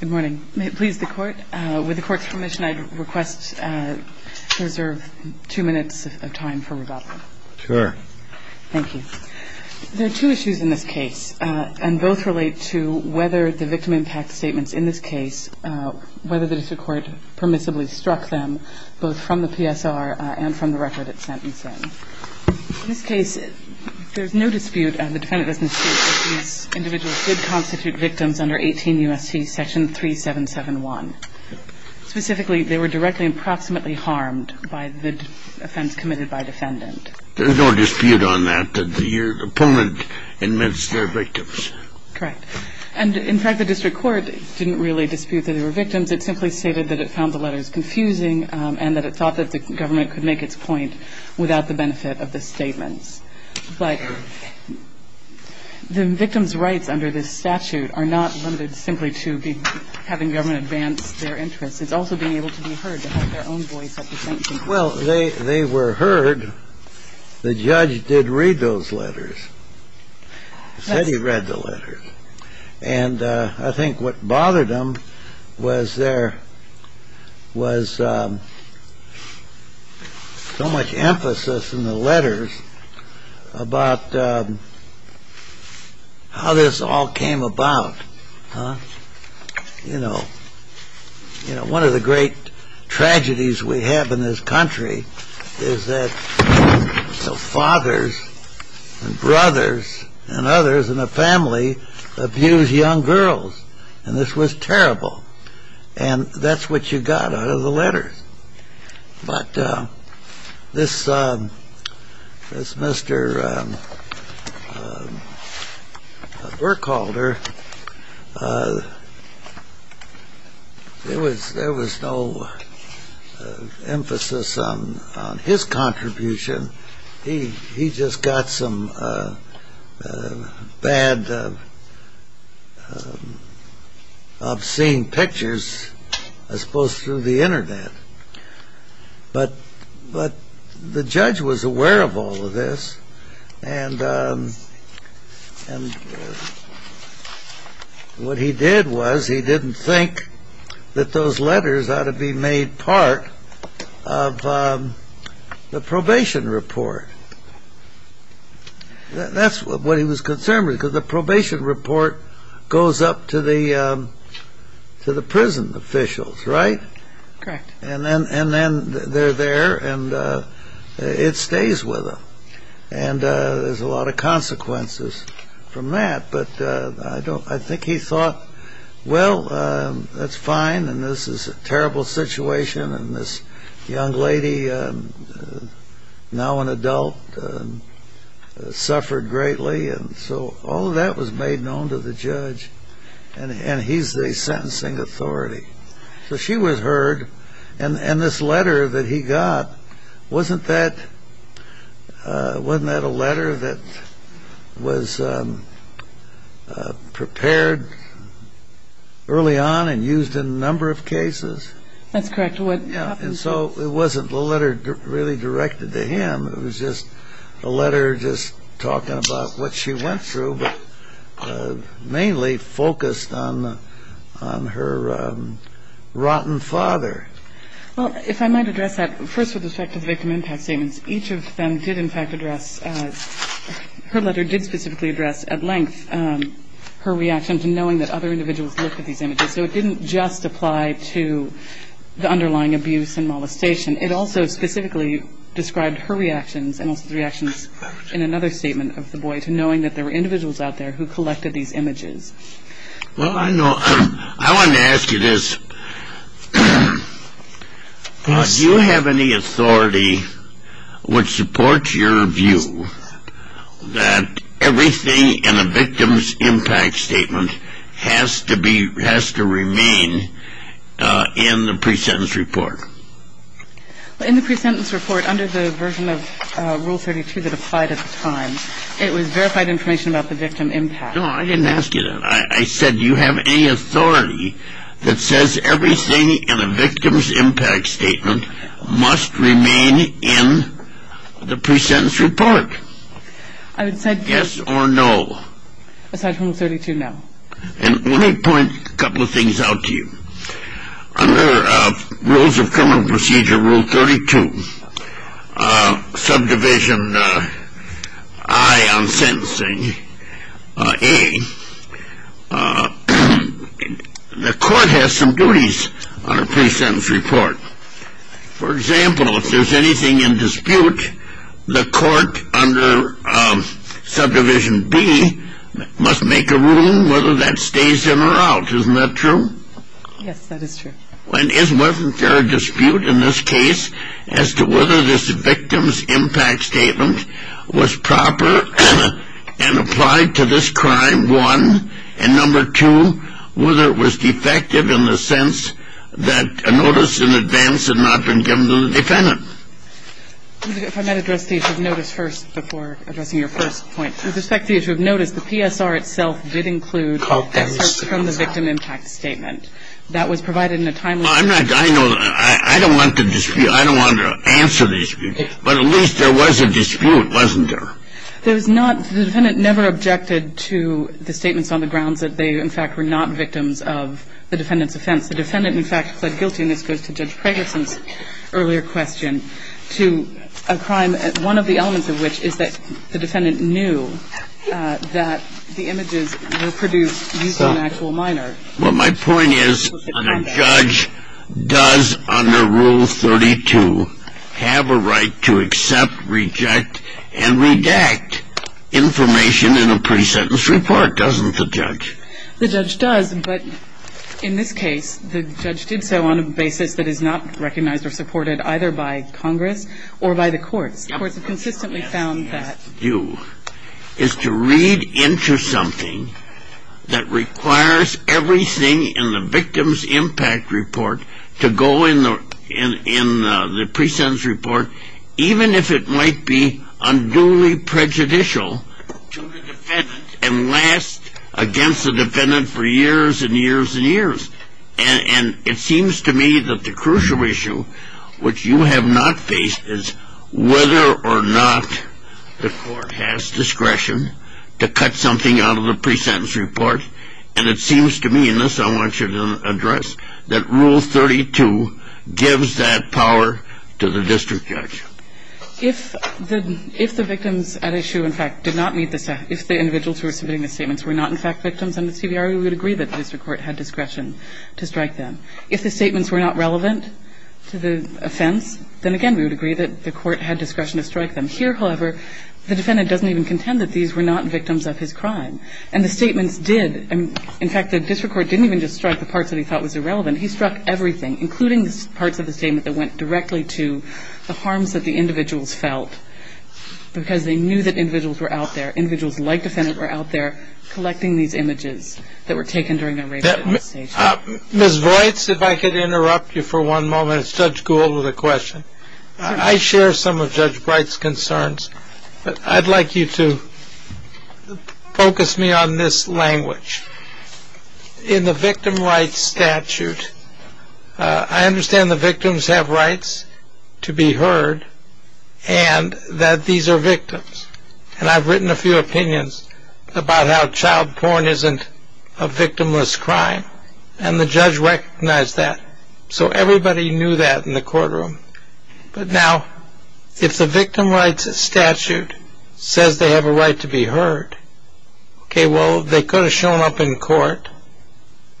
Good morning. May it please the court, with the court's permission, I'd request to reserve two minutes of time for rebuttal. Sure. Thank you. There are two issues in this case, and both relate to whether the victim impact statements in this case, whether the district court permissibly struck them, both from the PSR and from the record it's sentencing. In this case, there's no dispute, and the defendant doesn't dispute, that these individuals did constitute victims under 18 U.S.C. section 3771. Specifically, they were directly and proximately harmed by the offense committed by defendant. There's no dispute on that, that your opponent admits they're victims. Correct. And in fact, the district court didn't really dispute that they were victims. It simply stated that it found the letters confusing and that it thought that the government could make its point without the benefit of the statements. But the victim's rights under this statute are not limited simply to having government advance their interests. It's also being able to be heard, to have their own voice at the sentencing. Well, they were heard. The judge did read those letters, said he read the letters. And I think what bothered him was there was so much emphasis in the letters about how this all came about. You know, one of the great tragedies we have in this country is that fathers and brothers and others in the family abuse young girls. And this was terrible. And that's what you got out of the letters. But this Mr. Burkholder, there was no emphasis on his contribution. He just got some bad, obscene pictures, I suppose, through the Internet. But the judge was aware of all of this. And what he did was he didn't think that those letters ought to be made part of the probation report. That's what he was concerned with, because the probation report goes up to the prison officials, right? Correct. And then they're there, and it stays with them. And there's a lot of consequences from that. But I think he thought, well, that's fine, and this is a terrible situation, and this young lady, now an adult, suffered greatly. And so all of that was made known to the judge. And he's the sentencing authority. So she was heard. And this letter that he got, wasn't that a letter that was prepared early on and used in a number of cases? That's correct. And so it wasn't a letter really directed to him. It was just a letter just talking about what she went through, but mainly focused on her rotten father. Well, if I might address that, first with respect to the victim impact statements. Each of them did, in fact, address, her letter did specifically address at length her reaction to knowing that other individuals looked at these images. So it didn't just apply to the underlying abuse and molestation. It also specifically described her reactions and also the reactions in another statement of the boy to knowing that there were individuals out there who collected these images. Well, I know. I wanted to ask you this. Do you have any authority which supports your view that everything in a victim's impact statement has to remain in the pre-sentence report? In the pre-sentence report, under the version of Rule 32 that applied at the time, it was verified information about the victim impact. No, I didn't ask you that. I said, do you have any authority that says everything in a victim's impact statement must remain in the pre-sentence report? I would say. Yes or no? I said Rule 32, no. And let me point a couple of things out to you. Under Rules of Criminal Procedure, Rule 32, subdivision I on sentencing, A, the court has some duties on a pre-sentence report. For example, if there's anything in dispute, the court under subdivision B must make a ruling whether that stays in or out. Isn't that true? Yes, that is true. Wasn't there a dispute in this case as to whether this victim's impact statement was proper and applied to this crime, one? And number two, whether it was defective in the sense that a notice in advance had not been given to the defendant. If I might address the issue of notice first before addressing your first point. With respect to the issue of notice, the PSR itself did include a PSR from the victim impact statement. That was provided in a timely manner. I know. I don't want to dispute. I don't want to answer the dispute. But at least there was a dispute, wasn't there? There was not. The defendant never objected to the statements on the grounds that they, in fact, were not victims of the defendant's offense. The defendant, in fact, pled guilty, and this goes to Judge Pregerson's earlier question, to a crime, one of the elements of which is that the defendant knew that the images were produced using an actual minor. Well, my point is the judge does, under Rule 32, have a right to accept, reject, and redact information in a pre-sentence report, doesn't the judge? The judge does, but in this case, the judge did so on a basis that is not recognized or supported either by Congress or by the courts. The courts have consistently found that. is to read into something that requires everything in the victim's impact report to go in the pre-sentence report, even if it might be unduly prejudicial to the defendant and last against the defendant for years and years and years. And it seems to me that the crucial issue, which you have not faced, is whether or not the court has discretion to cut something out of the pre-sentence report. And it seems to me, and this I want you to address, that Rule 32 gives that power to the district judge. If the victims at issue, in fact, did not meet the set, if the individuals who were submitting the statements were not, in fact, victims, then the CBR would agree that the district court had discretion to strike them. If the statements were not relevant to the offense, then again we would agree that the court had discretion to strike them. Here, however, the defendant doesn't even contend that these were not victims of his crime. And the statements did. In fact, the district court didn't even just strike the parts that he thought was irrelevant. He struck everything, including parts of the statement that went directly to the harms that the individuals felt because they knew that individuals were out there, individuals like the defendant were out there collecting these images that were taken during a rape conversation. Ms. Voights, if I could interrupt you for one moment. It's Judge Gould with a question. I share some of Judge Bright's concerns, but I'd like you to focus me on this language. In the victim rights statute, I understand the victims have rights to be heard and that these are victims. And I've written a few opinions about how child porn isn't a victimless crime. And the judge recognized that. So everybody knew that in the courtroom. But now, if the victim rights statute says they have a right to be heard, okay, well, they could have shown up in court.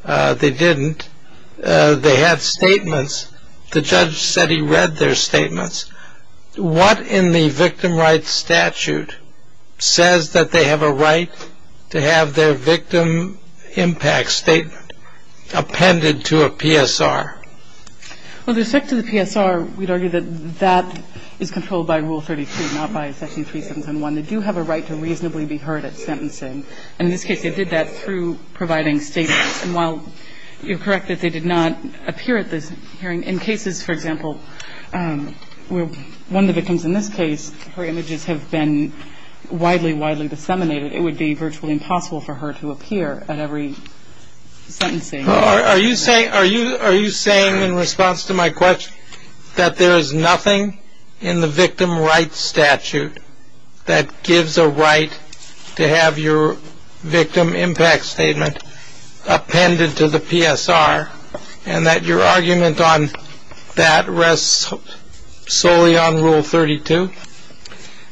They didn't. They had statements. The judge said he read their statements. What in the victim rights statute says that they have a right to have their victim impact statement appended to a PSR? Well, with respect to the PSR, we'd argue that that is controlled by Rule 32, not by Section 371. They do have a right to reasonably be heard at sentencing. And in this case, they did that through providing statements. And while you're correct that they did not appear at this hearing, in cases, for example, where one of the victims in this case, her images have been widely, widely disseminated, it would be virtually impossible for her to appear at every sentencing. Are you saying in response to my question that there is nothing in the victim rights statute that gives a right to have your victim impact statement appended to the PSR and that your argument on that rests solely on Rule 32?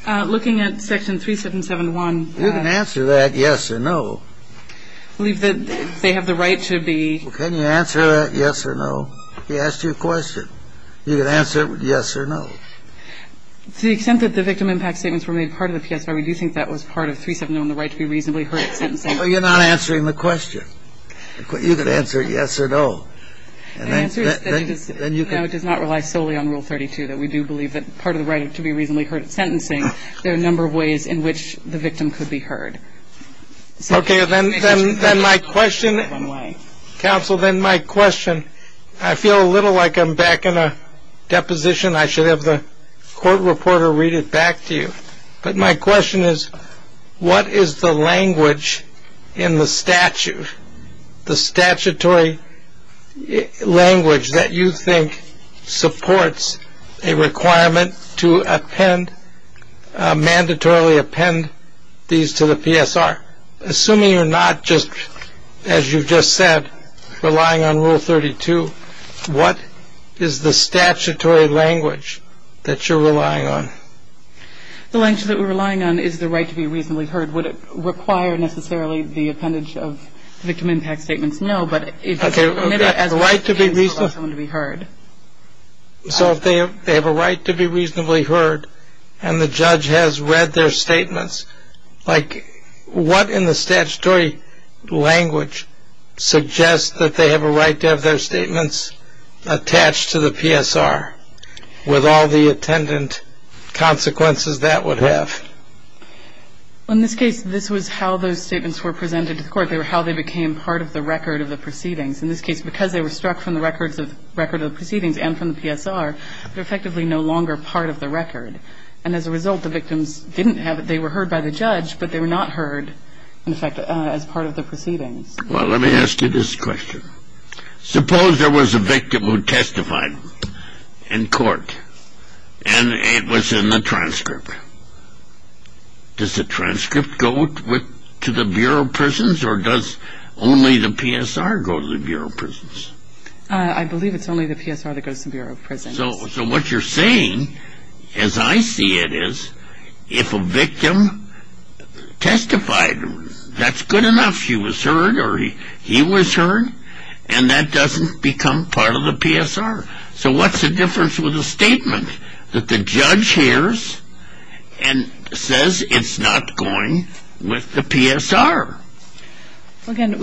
Looking at Section 377.1. You can answer that yes or no. I believe that they have the right to be. Well, can you answer that yes or no? He asked you a question. You can answer it with yes or no. To the extent that the victim impact statements were made part of the PSR, we do think that was part of 370 on the right to be reasonably heard at sentencing. Well, you're not answering the question. You could answer yes or no. The answer is no, it does not rely solely on Rule 32, that we do believe that part of the right to be reasonably heard at sentencing, there are a number of ways in which the victim could be heard. Okay. Then my question, counsel, then my question, I feel a little like I'm back in a deposition. I should have the court reporter read it back to you. But my question is, what is the language in the statute, the statutory language that you think supports a requirement to append, mandatorily append these to the PSR? Assuming you're not just, as you've just said, relying on Rule 32, what is the statutory language that you're relying on? The language that we're relying on is the right to be reasonably heard. Would it require, necessarily, the appendage of the victim impact statements? No. Okay. So if they have a right to be reasonably heard, and the judge has read their statements, like what in the statutory language suggests that they have a right to have their statements attached to the PSR with all the attendant consequences that would have? Well, in this case, this was how those statements were presented to the court. They were how they became part of the record of the proceedings. In this case, because they were struck from the record of the proceedings and from the PSR, they're effectively no longer part of the record. And as a result, the victims didn't have it. They were heard by the judge, but they were not heard, in fact, as part of the proceedings. Well, let me ask you this question. Suppose there was a victim who testified in court, and it was in the transcript. Does the transcript go to the Bureau of Prisons, or does only the PSR go to the Bureau of Prisons? I believe it's only the PSR that goes to the Bureau of Prisons. So what you're saying, as I see it, is if a victim testified, that's good enough. She was heard or he was heard, and that doesn't become part of the PSR. So what's the difference with a statement that the judge hears and says it's not going with the PSR? Well, again,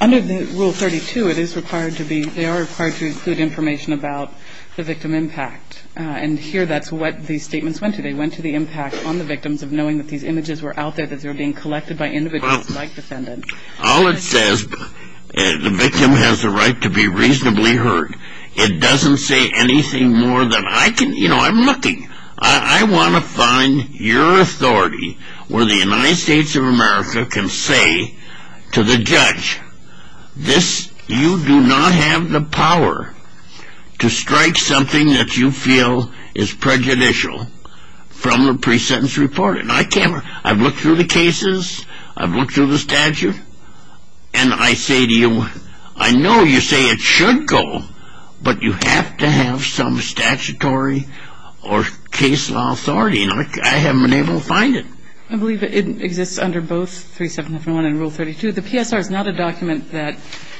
under Rule 32, it is required to be, they are required to include information about the victim impact. And here that's what these statements went to. They went to the impact on the victims of knowing that these images were out there, that they were being collected by individuals like defendants. All it says, the victim has the right to be reasonably heard. It doesn't say anything more than I can, you know, I'm looking. I want to find your authority where the United States of America can say to the judge, this, you do not have the power to strike something that you feel is prejudicial from the pre-sentence report. And I can't, I've looked through the cases, I've looked through the statute, and I say to you, I know you say it should go, but you have to have some statutory or case law authority. And I haven't been able to find it. I believe it exists under both 3751 and Rule 32. The PSR is not a document that,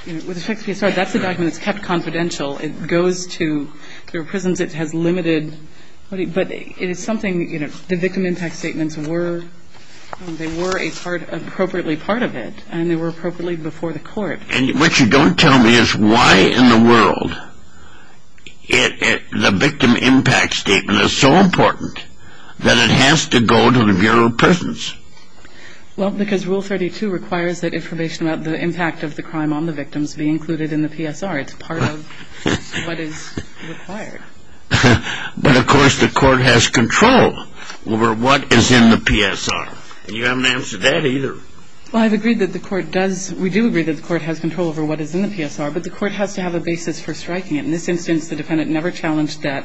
with respect to the PSR, that's a document that's kept confidential. It goes to, there are prisons that has limited, but it is something, you know, The victim impact statements were, they were a part, appropriately part of it, and they were appropriately before the court. And what you don't tell me is why in the world the victim impact statement is so important that it has to go to the Bureau of Prisons. Well, because Rule 32 requires that information about the impact of the crime on the victims be included in the PSR. It's part of what is required. But, of course, the court has control over what is in the PSR. And you haven't answered that either. Well, I've agreed that the court does, we do agree that the court has control over what is in the PSR, but the court has to have a basis for striking it. In this instance, the defendant never challenged that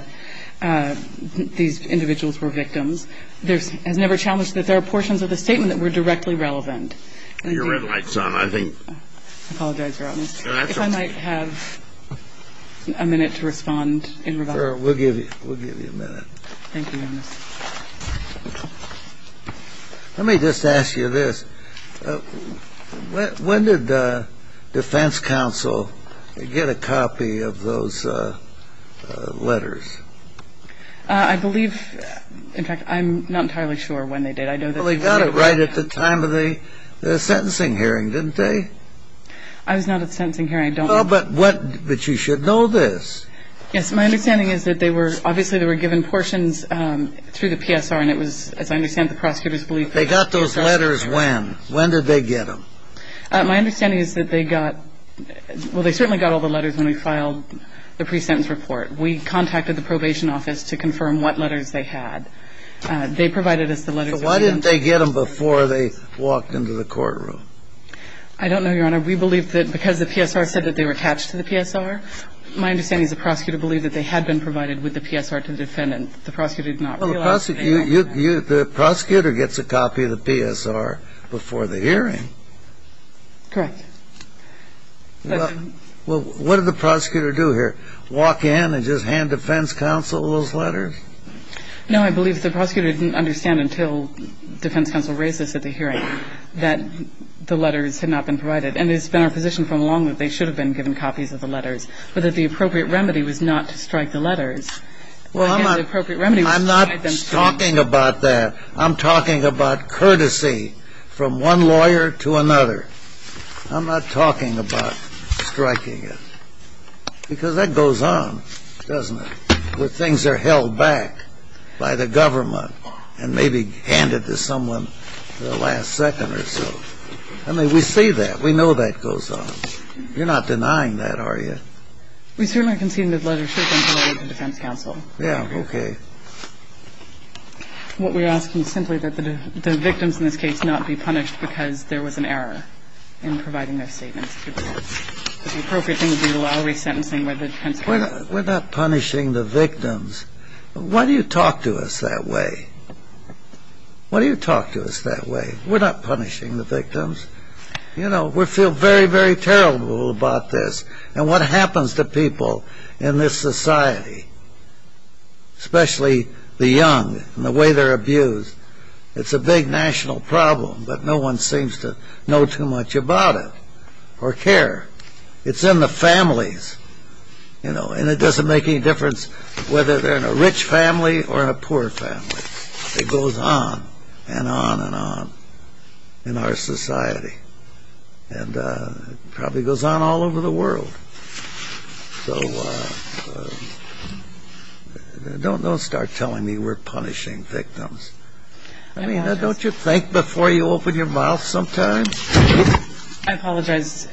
these individuals were victims. There's, has never challenged that there are portions of the statement that were directly relevant. Your red light's on, I think. I apologize, Your Honor. No, that's okay. I might have a minute to respond in rebuttal. Sure, we'll give you a minute. Thank you, Your Honor. Let me just ask you this. When did defense counsel get a copy of those letters? I believe, in fact, I'm not entirely sure when they did. Well, they got it right at the time of the sentencing hearing, didn't they? I was not at the sentencing hearing. I don't know. Well, but what, but you should know this. Yes. My understanding is that they were, obviously, they were given portions through the PSR, and it was, as I understand, the prosecutor's belief that the PSR. They got those letters when? When did they get them? My understanding is that they got, well, they certainly got all the letters when we filed the pre-sentence report. We contacted the probation office to confirm what letters they had. They provided us the letters. So why didn't they get them before they walked into the courtroom? I don't know, Your Honor. We believe that because the PSR said that they were attached to the PSR. My understanding is the prosecutor believed that they had been provided with the PSR to the defendant. The prosecutor did not realize that they had that. Well, the prosecutor gets a copy of the PSR before the hearing. Correct. Well, what did the prosecutor do here? Walk in and just hand defense counsel those letters? Well, I'm not talking about that. I'm talking about courtesy from one lawyer to another. I'm not talking about striking it. Because that goes on, doesn't it, where things are held back by the government I mean, we see that. We know that goes on. You're not denying that, are you? We certainly conceded that letters should have been provided to defense counsel. Yeah, okay. What we're asking is simply that the victims in this case not be punished because there was an error in providing their statements. The appropriate thing would be the law to be sentencing by the defense counsel. We're not punishing the victims. Why do you talk to us that way? Why do you talk to us that way? We're not punishing the victims. You know, we feel very, very terrible about this and what happens to people in this society, especially the young and the way they're abused. It's a big national problem, but no one seems to know too much about it or care. It's in the families, you know, and it doesn't make any difference whether they're in a rich family or in a poor family. It goes on and on and on in our society, and it probably goes on all over the world. So don't start telling me we're punishing victims. I mean, don't you think before you open your mouth sometimes? I apologize.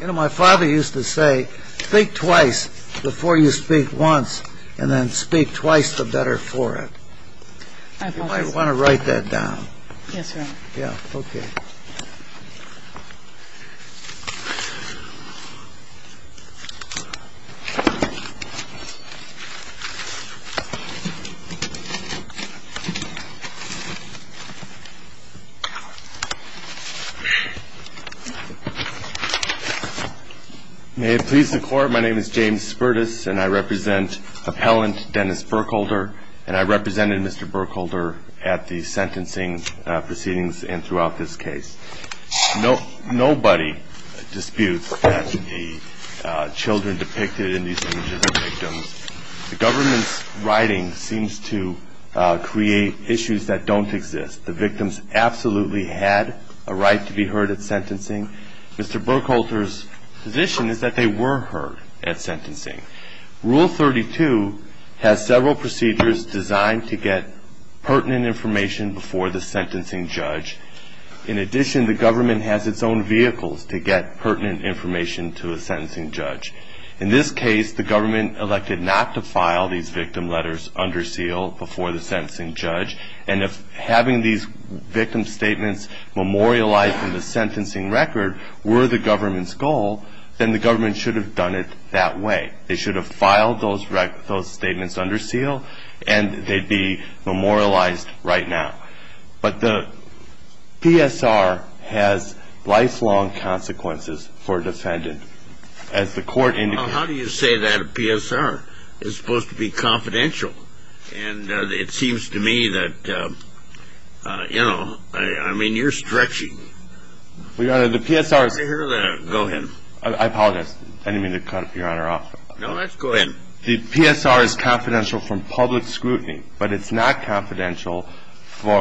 My father used to say, think twice before you speak once, and then speak twice the better for it. I apologize. You might want to write that down. Yes, Your Honor. Okay. May it please the Court, my name is James Spertus, and I represent appellant Dennis Burkholder, and I represented Mr. Burkholder at the sentencing proceedings and throughout this case. Nobody disputes that the children depicted in these images are victims. The government's writing seems to create issues that don't exist. The victims absolutely had a right to be heard at sentencing. Mr. Burkholder's position is that they were heard at sentencing. Rule 32 has several procedures designed to get pertinent information before the sentencing judge. In addition, the government has its own vehicles to get pertinent information to a sentencing judge. In this case, the government elected not to file these victim letters under seal before the sentencing judge, and if having these victim statements memorialized in the sentencing record were the government's goal, then the government should have done it that way. They should have filed those statements under seal, and they'd be memorialized right now. But the PSR has lifelong consequences for a defendant. As the Court indicated to me, Well, how do you say that a PSR is supposed to be confidential? And it seems to me that, you know, I mean, you're stretching. Well, Your Honor, the PSR is Go ahead. I apologize. I didn't mean to cut Your Honor off. No, go ahead. The PSR is confidential from public scrutiny, but it's not confidential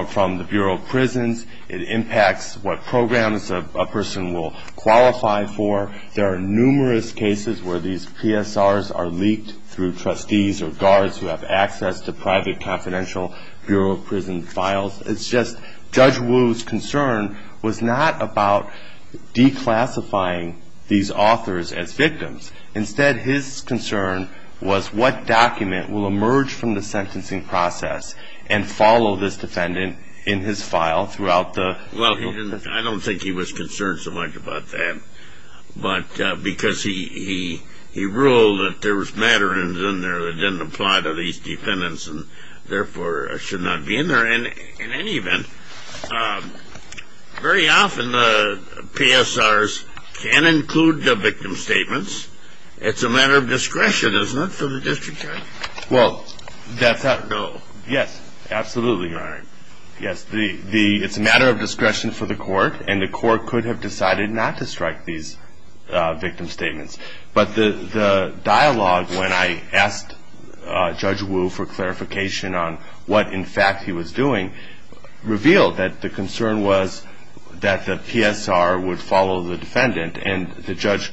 from the Bureau of Prisons. It impacts what programs a person will qualify for. There are numerous cases where these PSRs are leaked through trustees or guards who have access to private confidential Bureau of Prisons files. It's just Judge Wu's concern was not about declassifying these authors as victims. Instead, his concern was what document will emerge from the sentencing process and follow this defendant in his file throughout the I don't think he was concerned so much about that. But because he ruled that there was matter in there that didn't apply to these defendants and therefore should not be in there. And in any event, very often the PSRs can include the victim statements. It's a matter of discretion, isn't it, for the district attorney? Well, that's not No. Yes, absolutely, Your Honor. Yes, it's a matter of discretion for the court. And the court could have decided not to strike these victim statements. But the dialogue when I asked Judge Wu for clarification on what, in fact, he was doing, revealed that the concern was that the PSR would follow the defendant. And the judge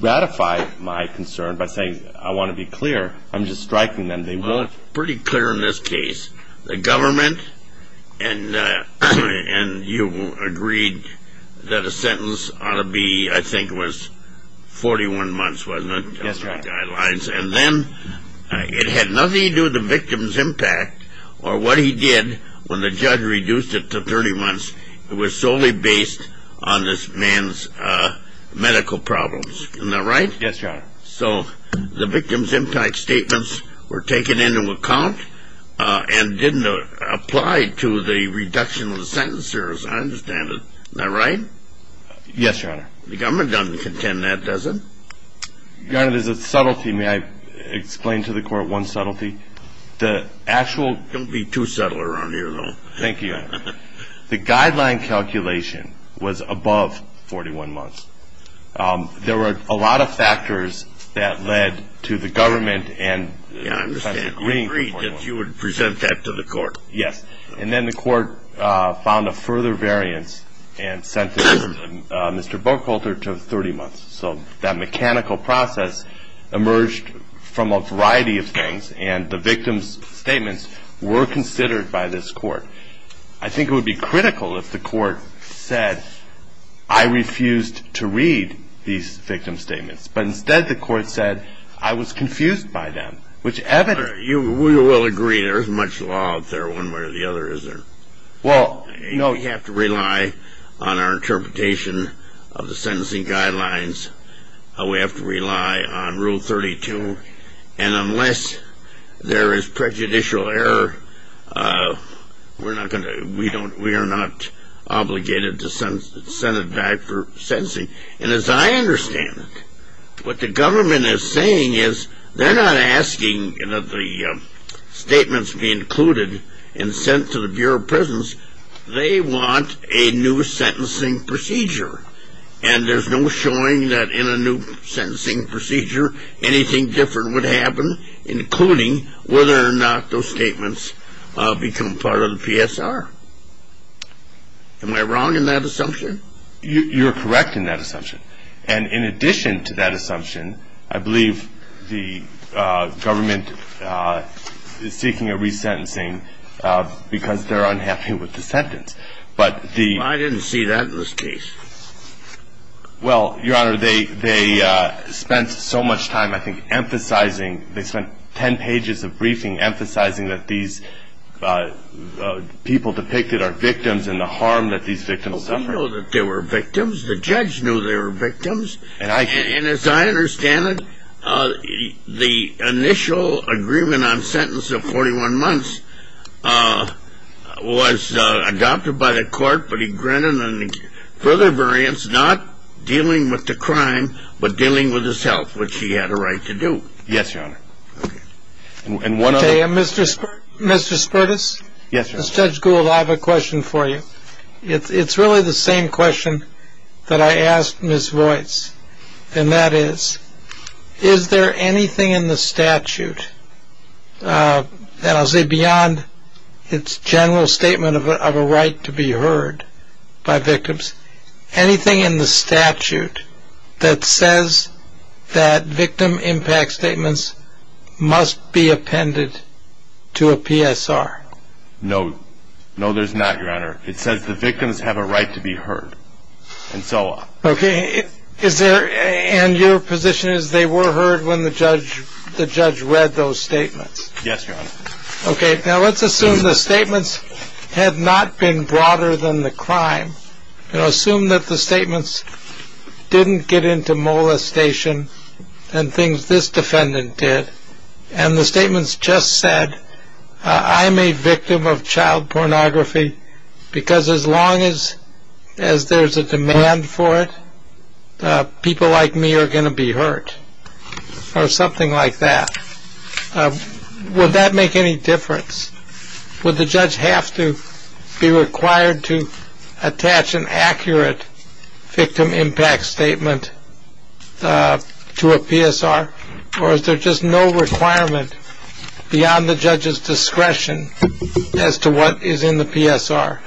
ratified my concern by saying, I want to be clear. I'm just striking them. Well, it's pretty clear in this case. The government and you agreed that a sentence ought to be, I think it was 41 months, wasn't it? Yes, Your Honor. And then it had nothing to do with the victim's impact or what he did when the judge reduced it to 30 months. It was solely based on this man's medical problems. Isn't that right? Yes, Your Honor. So the victim's impact statements were taken into account and didn't apply to the reduction of the sentence, as I understand it. Isn't that right? Yes, Your Honor. The government doesn't contend that, does it? Your Honor, there's a subtlety. May I explain to the court one subtlety? The actual Don't be too subtle around here, though. Thank you, Your Honor. The guideline calculation was above 41 months. There were a lot of factors that led to the government and Professor Green agreeing that you would present that to the court. Yes. And then the court found a further variance and sentenced Mr. Bocholter to 30 months. So that mechanical process emerged from a variety of things, and the victim's statements were considered by this court. I think it would be critical if the court said, I refused to read these victim statements, but instead the court said I was confused by them, which evidently We will agree there is much law out there one way or the other, isn't there? Well, no. You have to rely on our interpretation of the sentencing guidelines. We have to rely on Rule 32. And unless there is prejudicial error, we are not obligated to send it back for sentencing. And as I understand it, what the government is saying is they're not asking that the statements be included and sent to the Bureau of Prisons. They want a new sentencing procedure. And there's no showing that in a new sentencing procedure anything different would happen, including whether or not those statements become part of the PSR. Am I wrong in that assumption? You're correct in that assumption. And in addition to that assumption, I believe the government is seeking a resentencing because they're unhappy with the sentence. But the Well, I didn't see that in this case. Well, Your Honor, they spent so much time, I think, emphasizing, they spent ten pages of briefing emphasizing that these people depicted are victims and the harm that these victims suffered. Well, we know that they were victims. The judge knew they were victims. And as I understand it, the initial agreement on sentence of 41 months was adopted by the court, but he granted further variance, not dealing with the crime, but dealing with his health, which he had a right to do. Yes, Your Honor. Okay. And one other. Mr. Spertus? Yes, Your Honor. Judge Gould, I have a question for you. It's really the same question that I asked Ms. Voice, and that is, is there anything in the statute, and I'll say beyond its general statement of a right to be heard by victims, anything in the statute that says that victim impact statements must be appended to a PSR? No. No, there's not, Your Honor. It says the victims have a right to be heard, and so on. Okay. And your position is they were heard when the judge read those statements? Yes, Your Honor. Okay. Now, let's assume the statements had not been broader than the crime. Assume that the statements didn't get into molestation and things this defendant did, and the statements just said, I'm a victim of child pornography because as long as there's a demand for it, people like me are going to be hurt, or something like that. Would that make any difference? Would the judge have to be required to attach an accurate victim impact statement to a PSR, or is there just no requirement beyond the judge's discretion as to what is in the PSR?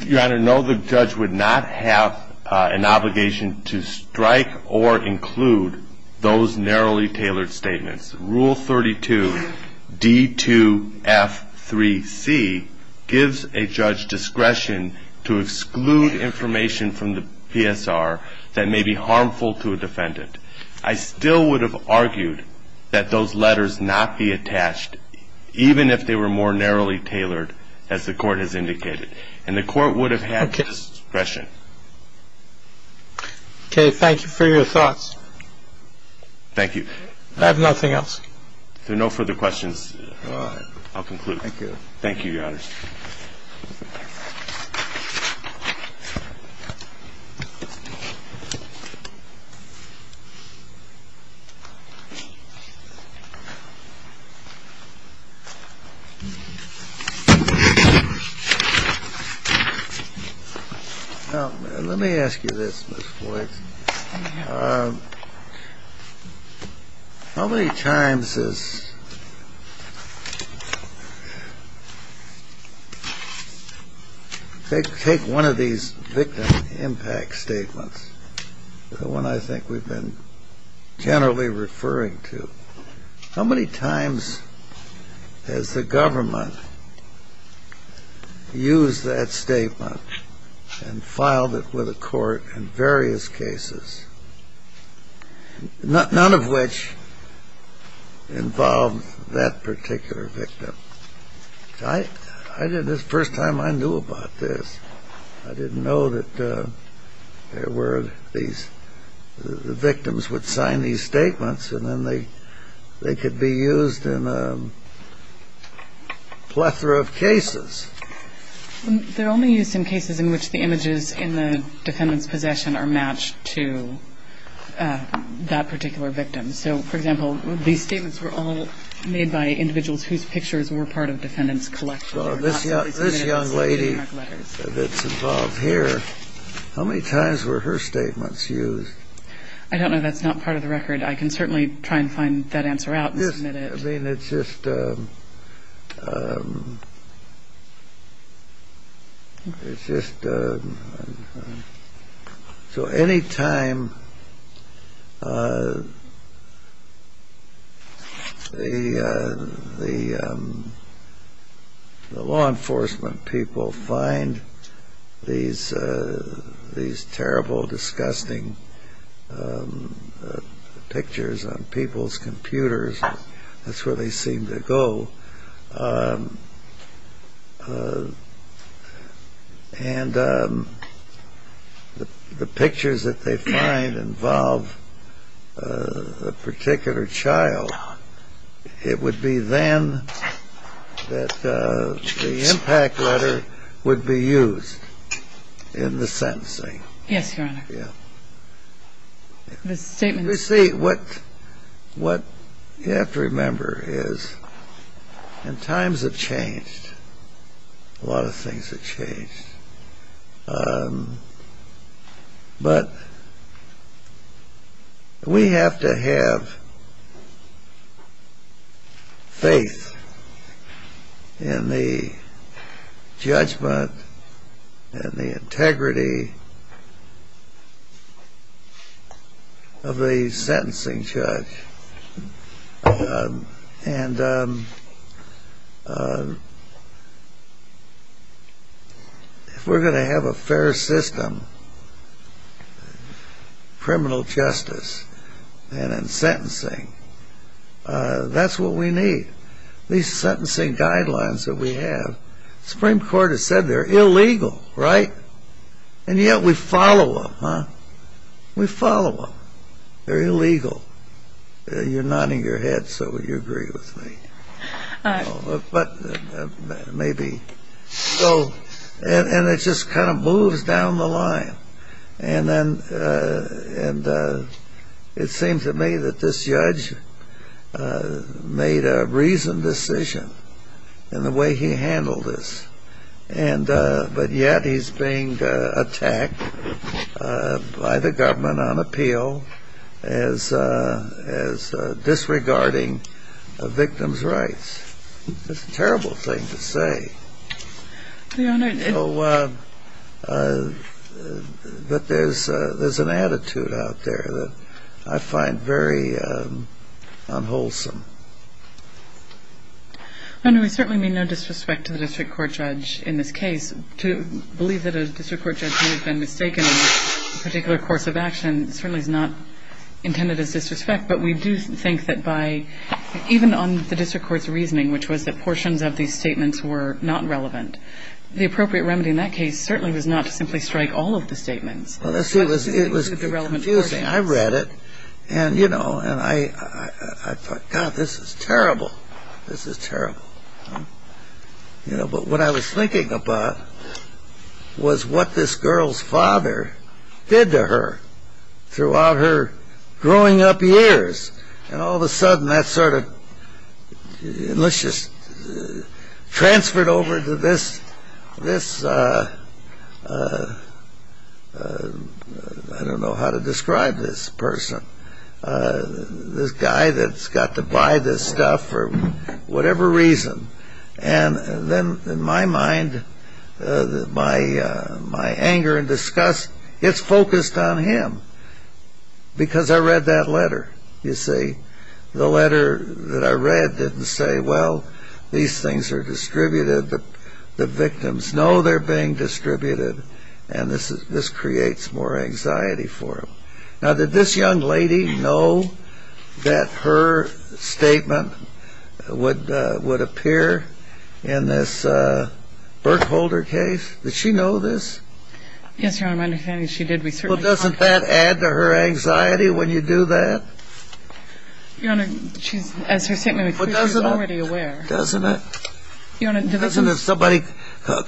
Your Honor, no, the judge would not have an obligation to strike or include those narrowly tailored statements. Rule 32, D2F3C, gives a judge discretion to exclude information from the PSR that may be harmful to a defendant. I still would have argued that those letters not be attached, even if they were more narrowly tailored, as the Court has indicated. And the Court would have had discretion. Okay. Okay, thank you for your thoughts. Thank you. I have nothing else. If there are no further questions, I'll conclude. Thank you. Thank you, Your Honor. Thank you. Now, let me ask you this, Ms. Boyd. How many times has ‑‑ take one of these victim impact statements, the one I think we've been generally referring to. How many times has the government used that statement and filed it with a court in various cases, none of which involved that particular victim? The first time I knew about this, I didn't know that there were these ‑‑ the victims would sign these statements and then they could be used in a plethora of cases. They're only used in cases in which the images in the defendant's possession are matched to that particular victim. So, for example, these statements were all made by individuals whose pictures were part of defendant's collection. This young lady that's involved here, how many times were her statements used? I don't know. That's not part of the record. I can certainly try and find that answer out and submit it. I mean, it's just ‑‑ it's just ‑‑ So any time the law enforcement people find these terrible, disgusting pictures on people's computers, that's where they seem to go. And the pictures that they find involve a particular child, it would be then that the impact letter would be used in the sentencing. Yes, Your Honor. Yeah. The statement ‑‑ You see, what you have to remember is in times of change, a lot of things have changed. But we have to have faith in the judgment and the integrity of the sentencing judge. And if we're going to have a fair system, criminal justice and in sentencing, that's what we need. These sentencing guidelines that we have, Supreme Court has said they're illegal, right? And yet we follow them, huh? We follow them. They're illegal. You're nodding your head, so you agree with me. All right. But maybe. So, and it just kind of moves down the line. And then it seems to me that this judge made a reasoned decision in the way he handled this. But yet he's being attacked by the government on appeal as disregarding a victim's rights. That's a terrible thing to say. Your Honor. But there's an attitude out there that I find very unwholesome. Your Honor, we certainly mean no disrespect to the district court judge in this case. To believe that a district court judge may have been mistaken in a particular course of action certainly is not intended as disrespect. But we do think that by, even on the district court's reasoning, which was that portions of these statements were not relevant, the appropriate remedy in that case certainly was not to simply strike all of the statements. Well, let's see. It was confusing. I read it. And, you know, I thought, God, this is terrible. This is terrible. But what I was thinking about was what this girl's father did to her throughout her growing up years. And all of a sudden that sort of, let's just, transferred over to this, I don't know how to describe this person. This guy that's got to buy this stuff for whatever reason. And then in my mind, my anger and disgust, it's focused on him. Because I read that letter, you see. The letter that I read didn't say, well, these things are distributed, the victims. No, they're being distributed. And this creates more anxiety for him. Now, did this young lady know that her statement would appear in this Berkholder case? Did she know this? Yes, Your Honor. My understanding is she did. Well, doesn't that add to her anxiety when you do that? Your Honor, she's, as her statement, she's already aware. Doesn't it? Somebody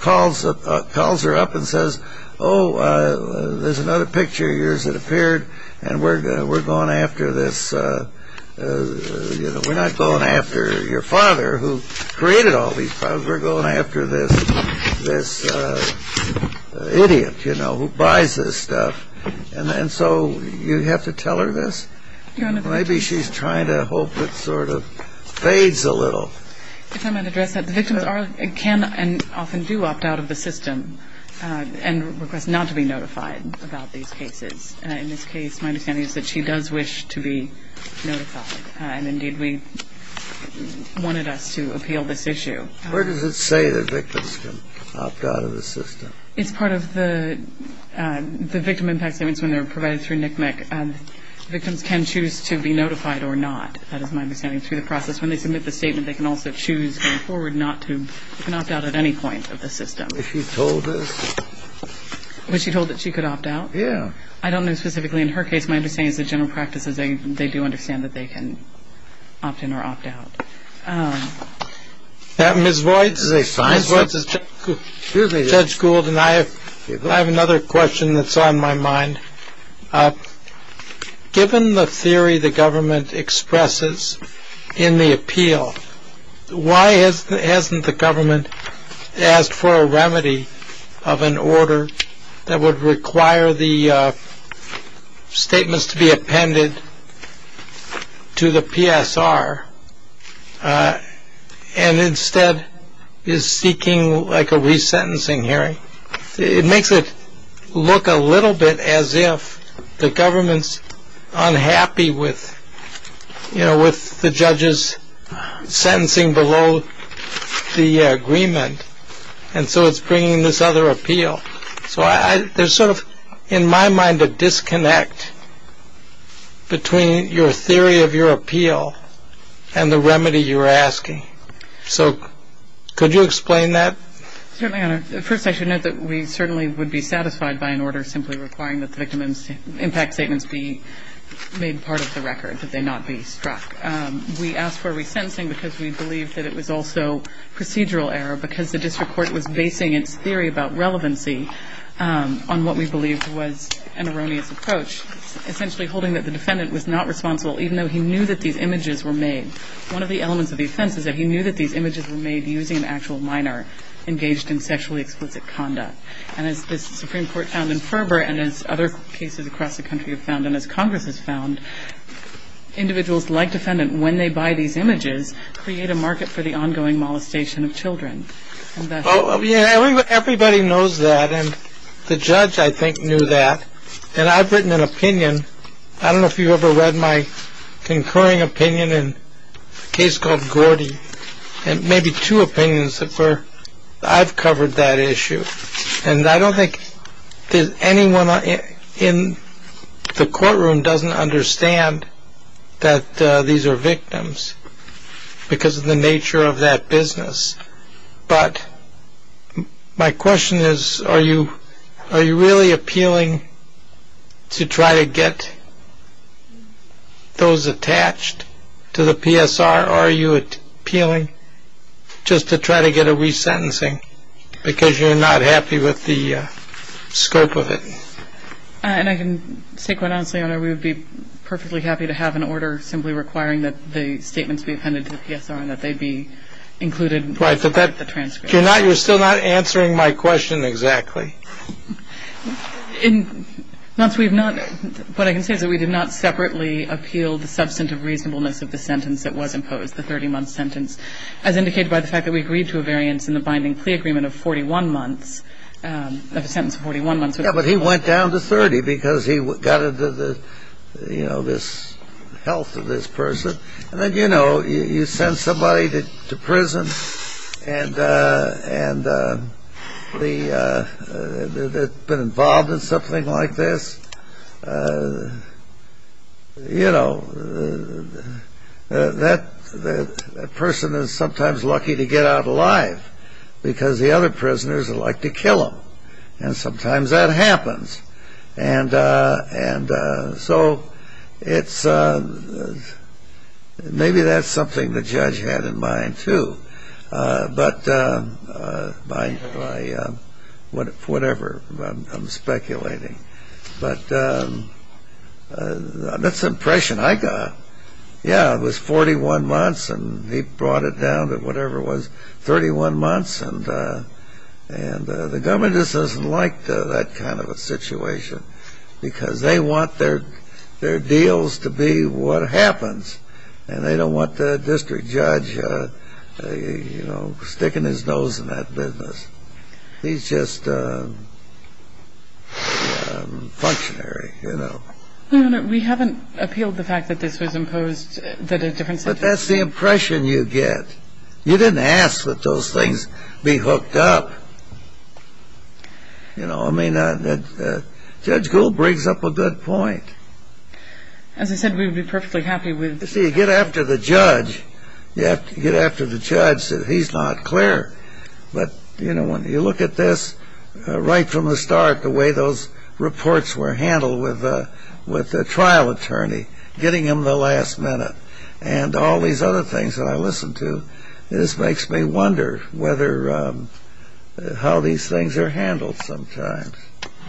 calls her up and says, oh, there's another picture of yours that appeared, and we're going after this, you know, we're not going after your father who created all these problems. We're going after this idiot, you know, who buys this stuff. And so you have to tell her this? Your Honor. Maybe she's trying to hope it sort of fades a little. If I might address that, the victims can and often do opt out of the system and request not to be notified about these cases. In this case, my understanding is that she does wish to be notified. And, indeed, we wanted us to appeal this issue. Where does it say that victims can opt out of the system? It's part of the victim impact statements when they're provided through NCMEC. Victims can choose to be notified or not. That is my understanding through the process. When they submit the statement, they can also choose going forward not to opt out at any point of the system. Was she told this? Was she told that she could opt out? Yeah. I don't know specifically in her case. My understanding is the general practice is they do understand that they can opt in or opt out. Ms. Voigt, Judge Gould and I, I have another question that's on my mind. Given the theory the government expresses in the appeal, why hasn't the government asked for a remedy of an order that would require the statements to be appended to the PSR and instead is seeking like a resentencing hearing? It makes it look a little bit as if the government's unhappy with the judges sentencing below the agreement, and so it's bringing this other appeal. So there's sort of, in my mind, a disconnect between your theory of your appeal and the remedy you're asking. So could you explain that? Certainly, Your Honor. First, I should note that we certainly would be satisfied by an order simply requiring that the victim impact statements be made part of the record, that they not be struck. We asked for a resentencing because we believed that it was also procedural error because the district court was basing its theory about relevancy on what we believed was an erroneous approach, essentially holding that the defendant was not responsible even though he knew that these images were made. One of the elements of the offense is that he knew that these images were made using an actual minor engaged in sexually explicit conduct. And as the Supreme Court found in Ferber and as other cases across the country have found and as Congress has found, individuals like defendant, when they buy these images, create a market for the ongoing molestation of children. Everybody knows that, and the judge, I think, knew that, and I've written an opinion. I don't know if you've ever read my concurring opinion in a case called Gordy, and maybe two opinions that I've covered that issue. And I don't think anyone in the courtroom doesn't understand that these are victims because of the nature of that business. But my question is, are you really appealing to try to get those attached to the PSR, or are you appealing just to try to get a resentencing because you're not happy with the scope of it? And I can say quite honestly, Your Honor, we would be perfectly happy to have an order simply requiring that the statements be appended to the PSR and that they be included in the transcript. Your Honor, you're still not answering my question exactly. Your Honor, what I can say is that we did not separately appeal the substantive reasonableness of the sentence that was imposed, the 30-month sentence, as indicated by the fact that we agreed to a variance in the binding plea agreement of 41 months, of a sentence of 41 months. Yeah, but he went down to 30 because he got into the, you know, this health of this person. And then, you know, you send somebody to prison and they've been involved in something like this. You know, that person is sometimes lucky to get out alive because the other prisoners would like to kill them, and sometimes that happens. And so it's maybe that's something the judge had in mind, too. But whatever, I'm speculating. But that's the impression I got. Yeah, it was 41 months, and he brought it down to whatever it was, 31 months. And the government just doesn't like that kind of a situation because they want their deals to be what happens, and they don't want the district judge, you know, sticking his nose in that business. He's just a functionary, you know. Your Honor, we haven't appealed the fact that this was imposed, that a different sentence was imposed. But that's the impression you get. You didn't ask that those things be hooked up. You know, I mean, Judge Gould brings up a good point. As I said, we would be perfectly happy with it. You see, you get after the judge. You have to get after the judge. He's not clear. But, you know, when you look at this right from the start, the way those reports were handled with the trial attorney, getting him the last minute, and all these other things that I listened to, this makes me wonder whether how these things are handled sometimes.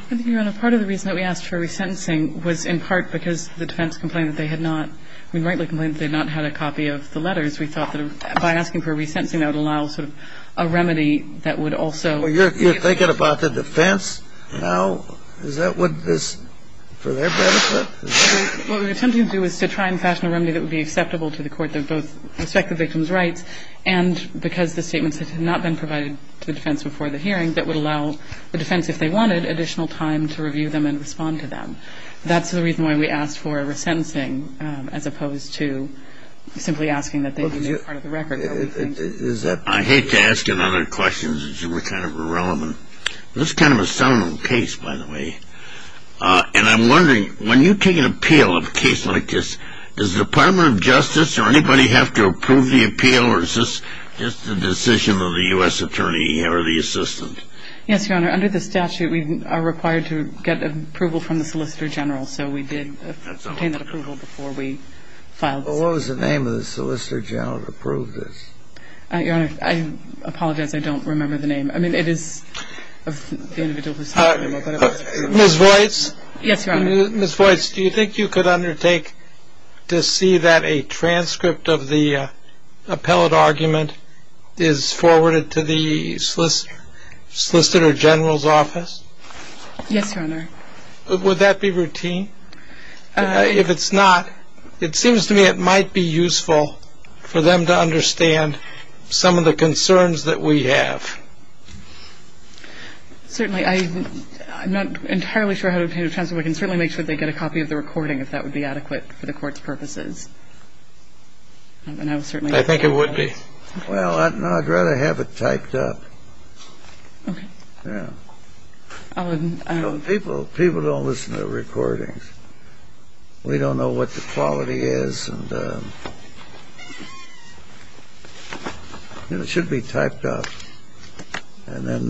I think, Your Honor, part of the reason that we asked for a resentencing was in part because the defense complained that they had not, I mean, rightly complained that they had not had a copy of the letters. We thought that by asking for a resentencing, that would allow sort of a remedy that would also... Well, you're thinking about the defense now? Is that for their benefit? What we were attempting to do was to try and fashion a remedy that would be acceptable to the court that both respect the victim's rights and because the statements had not been provided to the defense before the hearing, that would allow the defense, if they wanted, additional time to review them and respond to them. That's the reason why we asked for a resentencing, as opposed to simply asking that they use it as part of the record. I hate to ask you another question since you were kind of irrelevant. This is kind of a seldom case, by the way. And I'm wondering, when you take an appeal of a case like this, does the Department of Justice or anybody have to approve the appeal or is this just a decision of the U.S. attorney or the assistant? Yes, Your Honor. Under the statute, we are required to get approval from the Solicitor General, so we did obtain that approval before we filed this case. What was the name of the Solicitor General that approved this? Your Honor, I apologize. I don't remember the name. I mean, it is of the individual who sent the memo. Ms. Voights? Yes, Your Honor. Ms. Voights, do you think you could undertake to see that a transcript of the appellate argument is forwarded to the Solicitor General's office? Yes, Your Honor. Would that be routine? If it's not, it seems to me it might be useful for them to understand some of the concerns that we have. Certainly. I'm not entirely sure how to obtain a transcript. We can certainly make sure they get a copy of the recording, if that would be adequate for the Court's purposes. And I would certainly like to see that. I think it would be. Well, I'd rather have it typed up. Okay. Yeah. People don't listen to recordings. We don't know what the quality is and it should be typed up. And then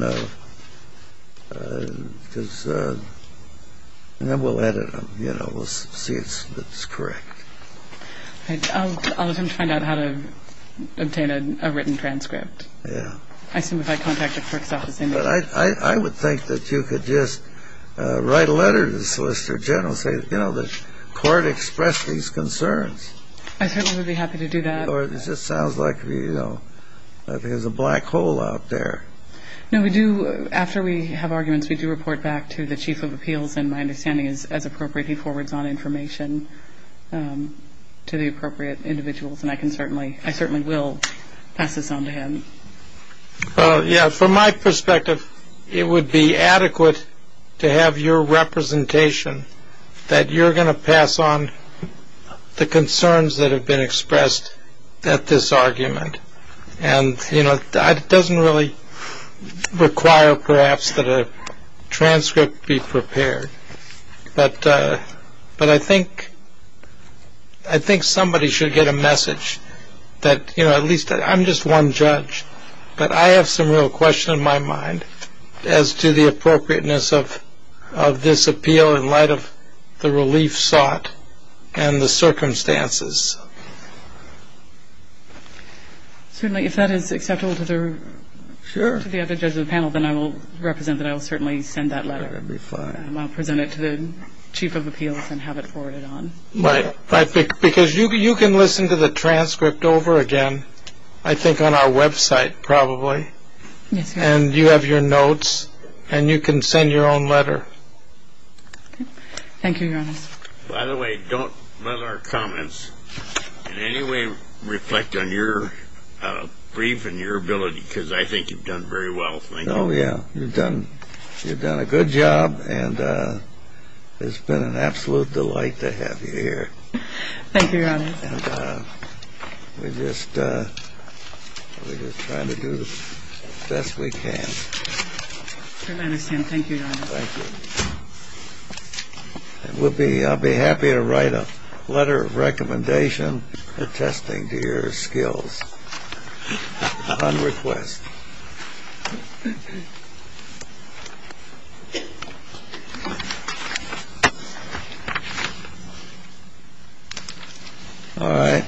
we'll edit them, you know, we'll see if it's correct. Okay. I'll attempt to find out how to obtain a written transcript. Yeah. I assume if I contact the Court's office. I would think that you could just write a letter to the Solicitor General and say, you know, the Court expressed these concerns. I certainly would be happy to do that. Or it just sounds like, you know, there's a black hole out there. No, we do, after we have arguments, we do report back to the Chief of Appeals, and my understanding is as appropriate, he forwards on information to the appropriate individuals. And I can certainly, I certainly will pass this on to him. Yeah, from my perspective, it would be adequate to have your representation that you're going to pass on the concerns that have been expressed at this argument. And, you know, it doesn't really require, perhaps, that a transcript be prepared. But I think somebody should get a message that, you know, at least I'm just one judge, but I have some real questions in my mind as to the appropriateness of this appeal in light of the relief sought and the circumstances. Certainly, if that is acceptable to the other judges of the panel, then I will represent that I will certainly send that letter. And I'll present it to the Chief of Appeals and have it forwarded on. Because you can listen to the transcript over again, I think on our website, probably. And you have your notes, and you can send your own letter. Thank you, Your Honor. By the way, don't let our comments in any way reflect on your brief and your ability, because I think you've done very well. Thank you. Oh, yeah. You've done a good job, and it's been an absolute delight to have you here. Thank you, Your Honor. And we're just trying to do the best we can. I understand. Thank you, Your Honor. Thank you. I'll be happy to write a letter of recommendation or testing to your skills on request. All right.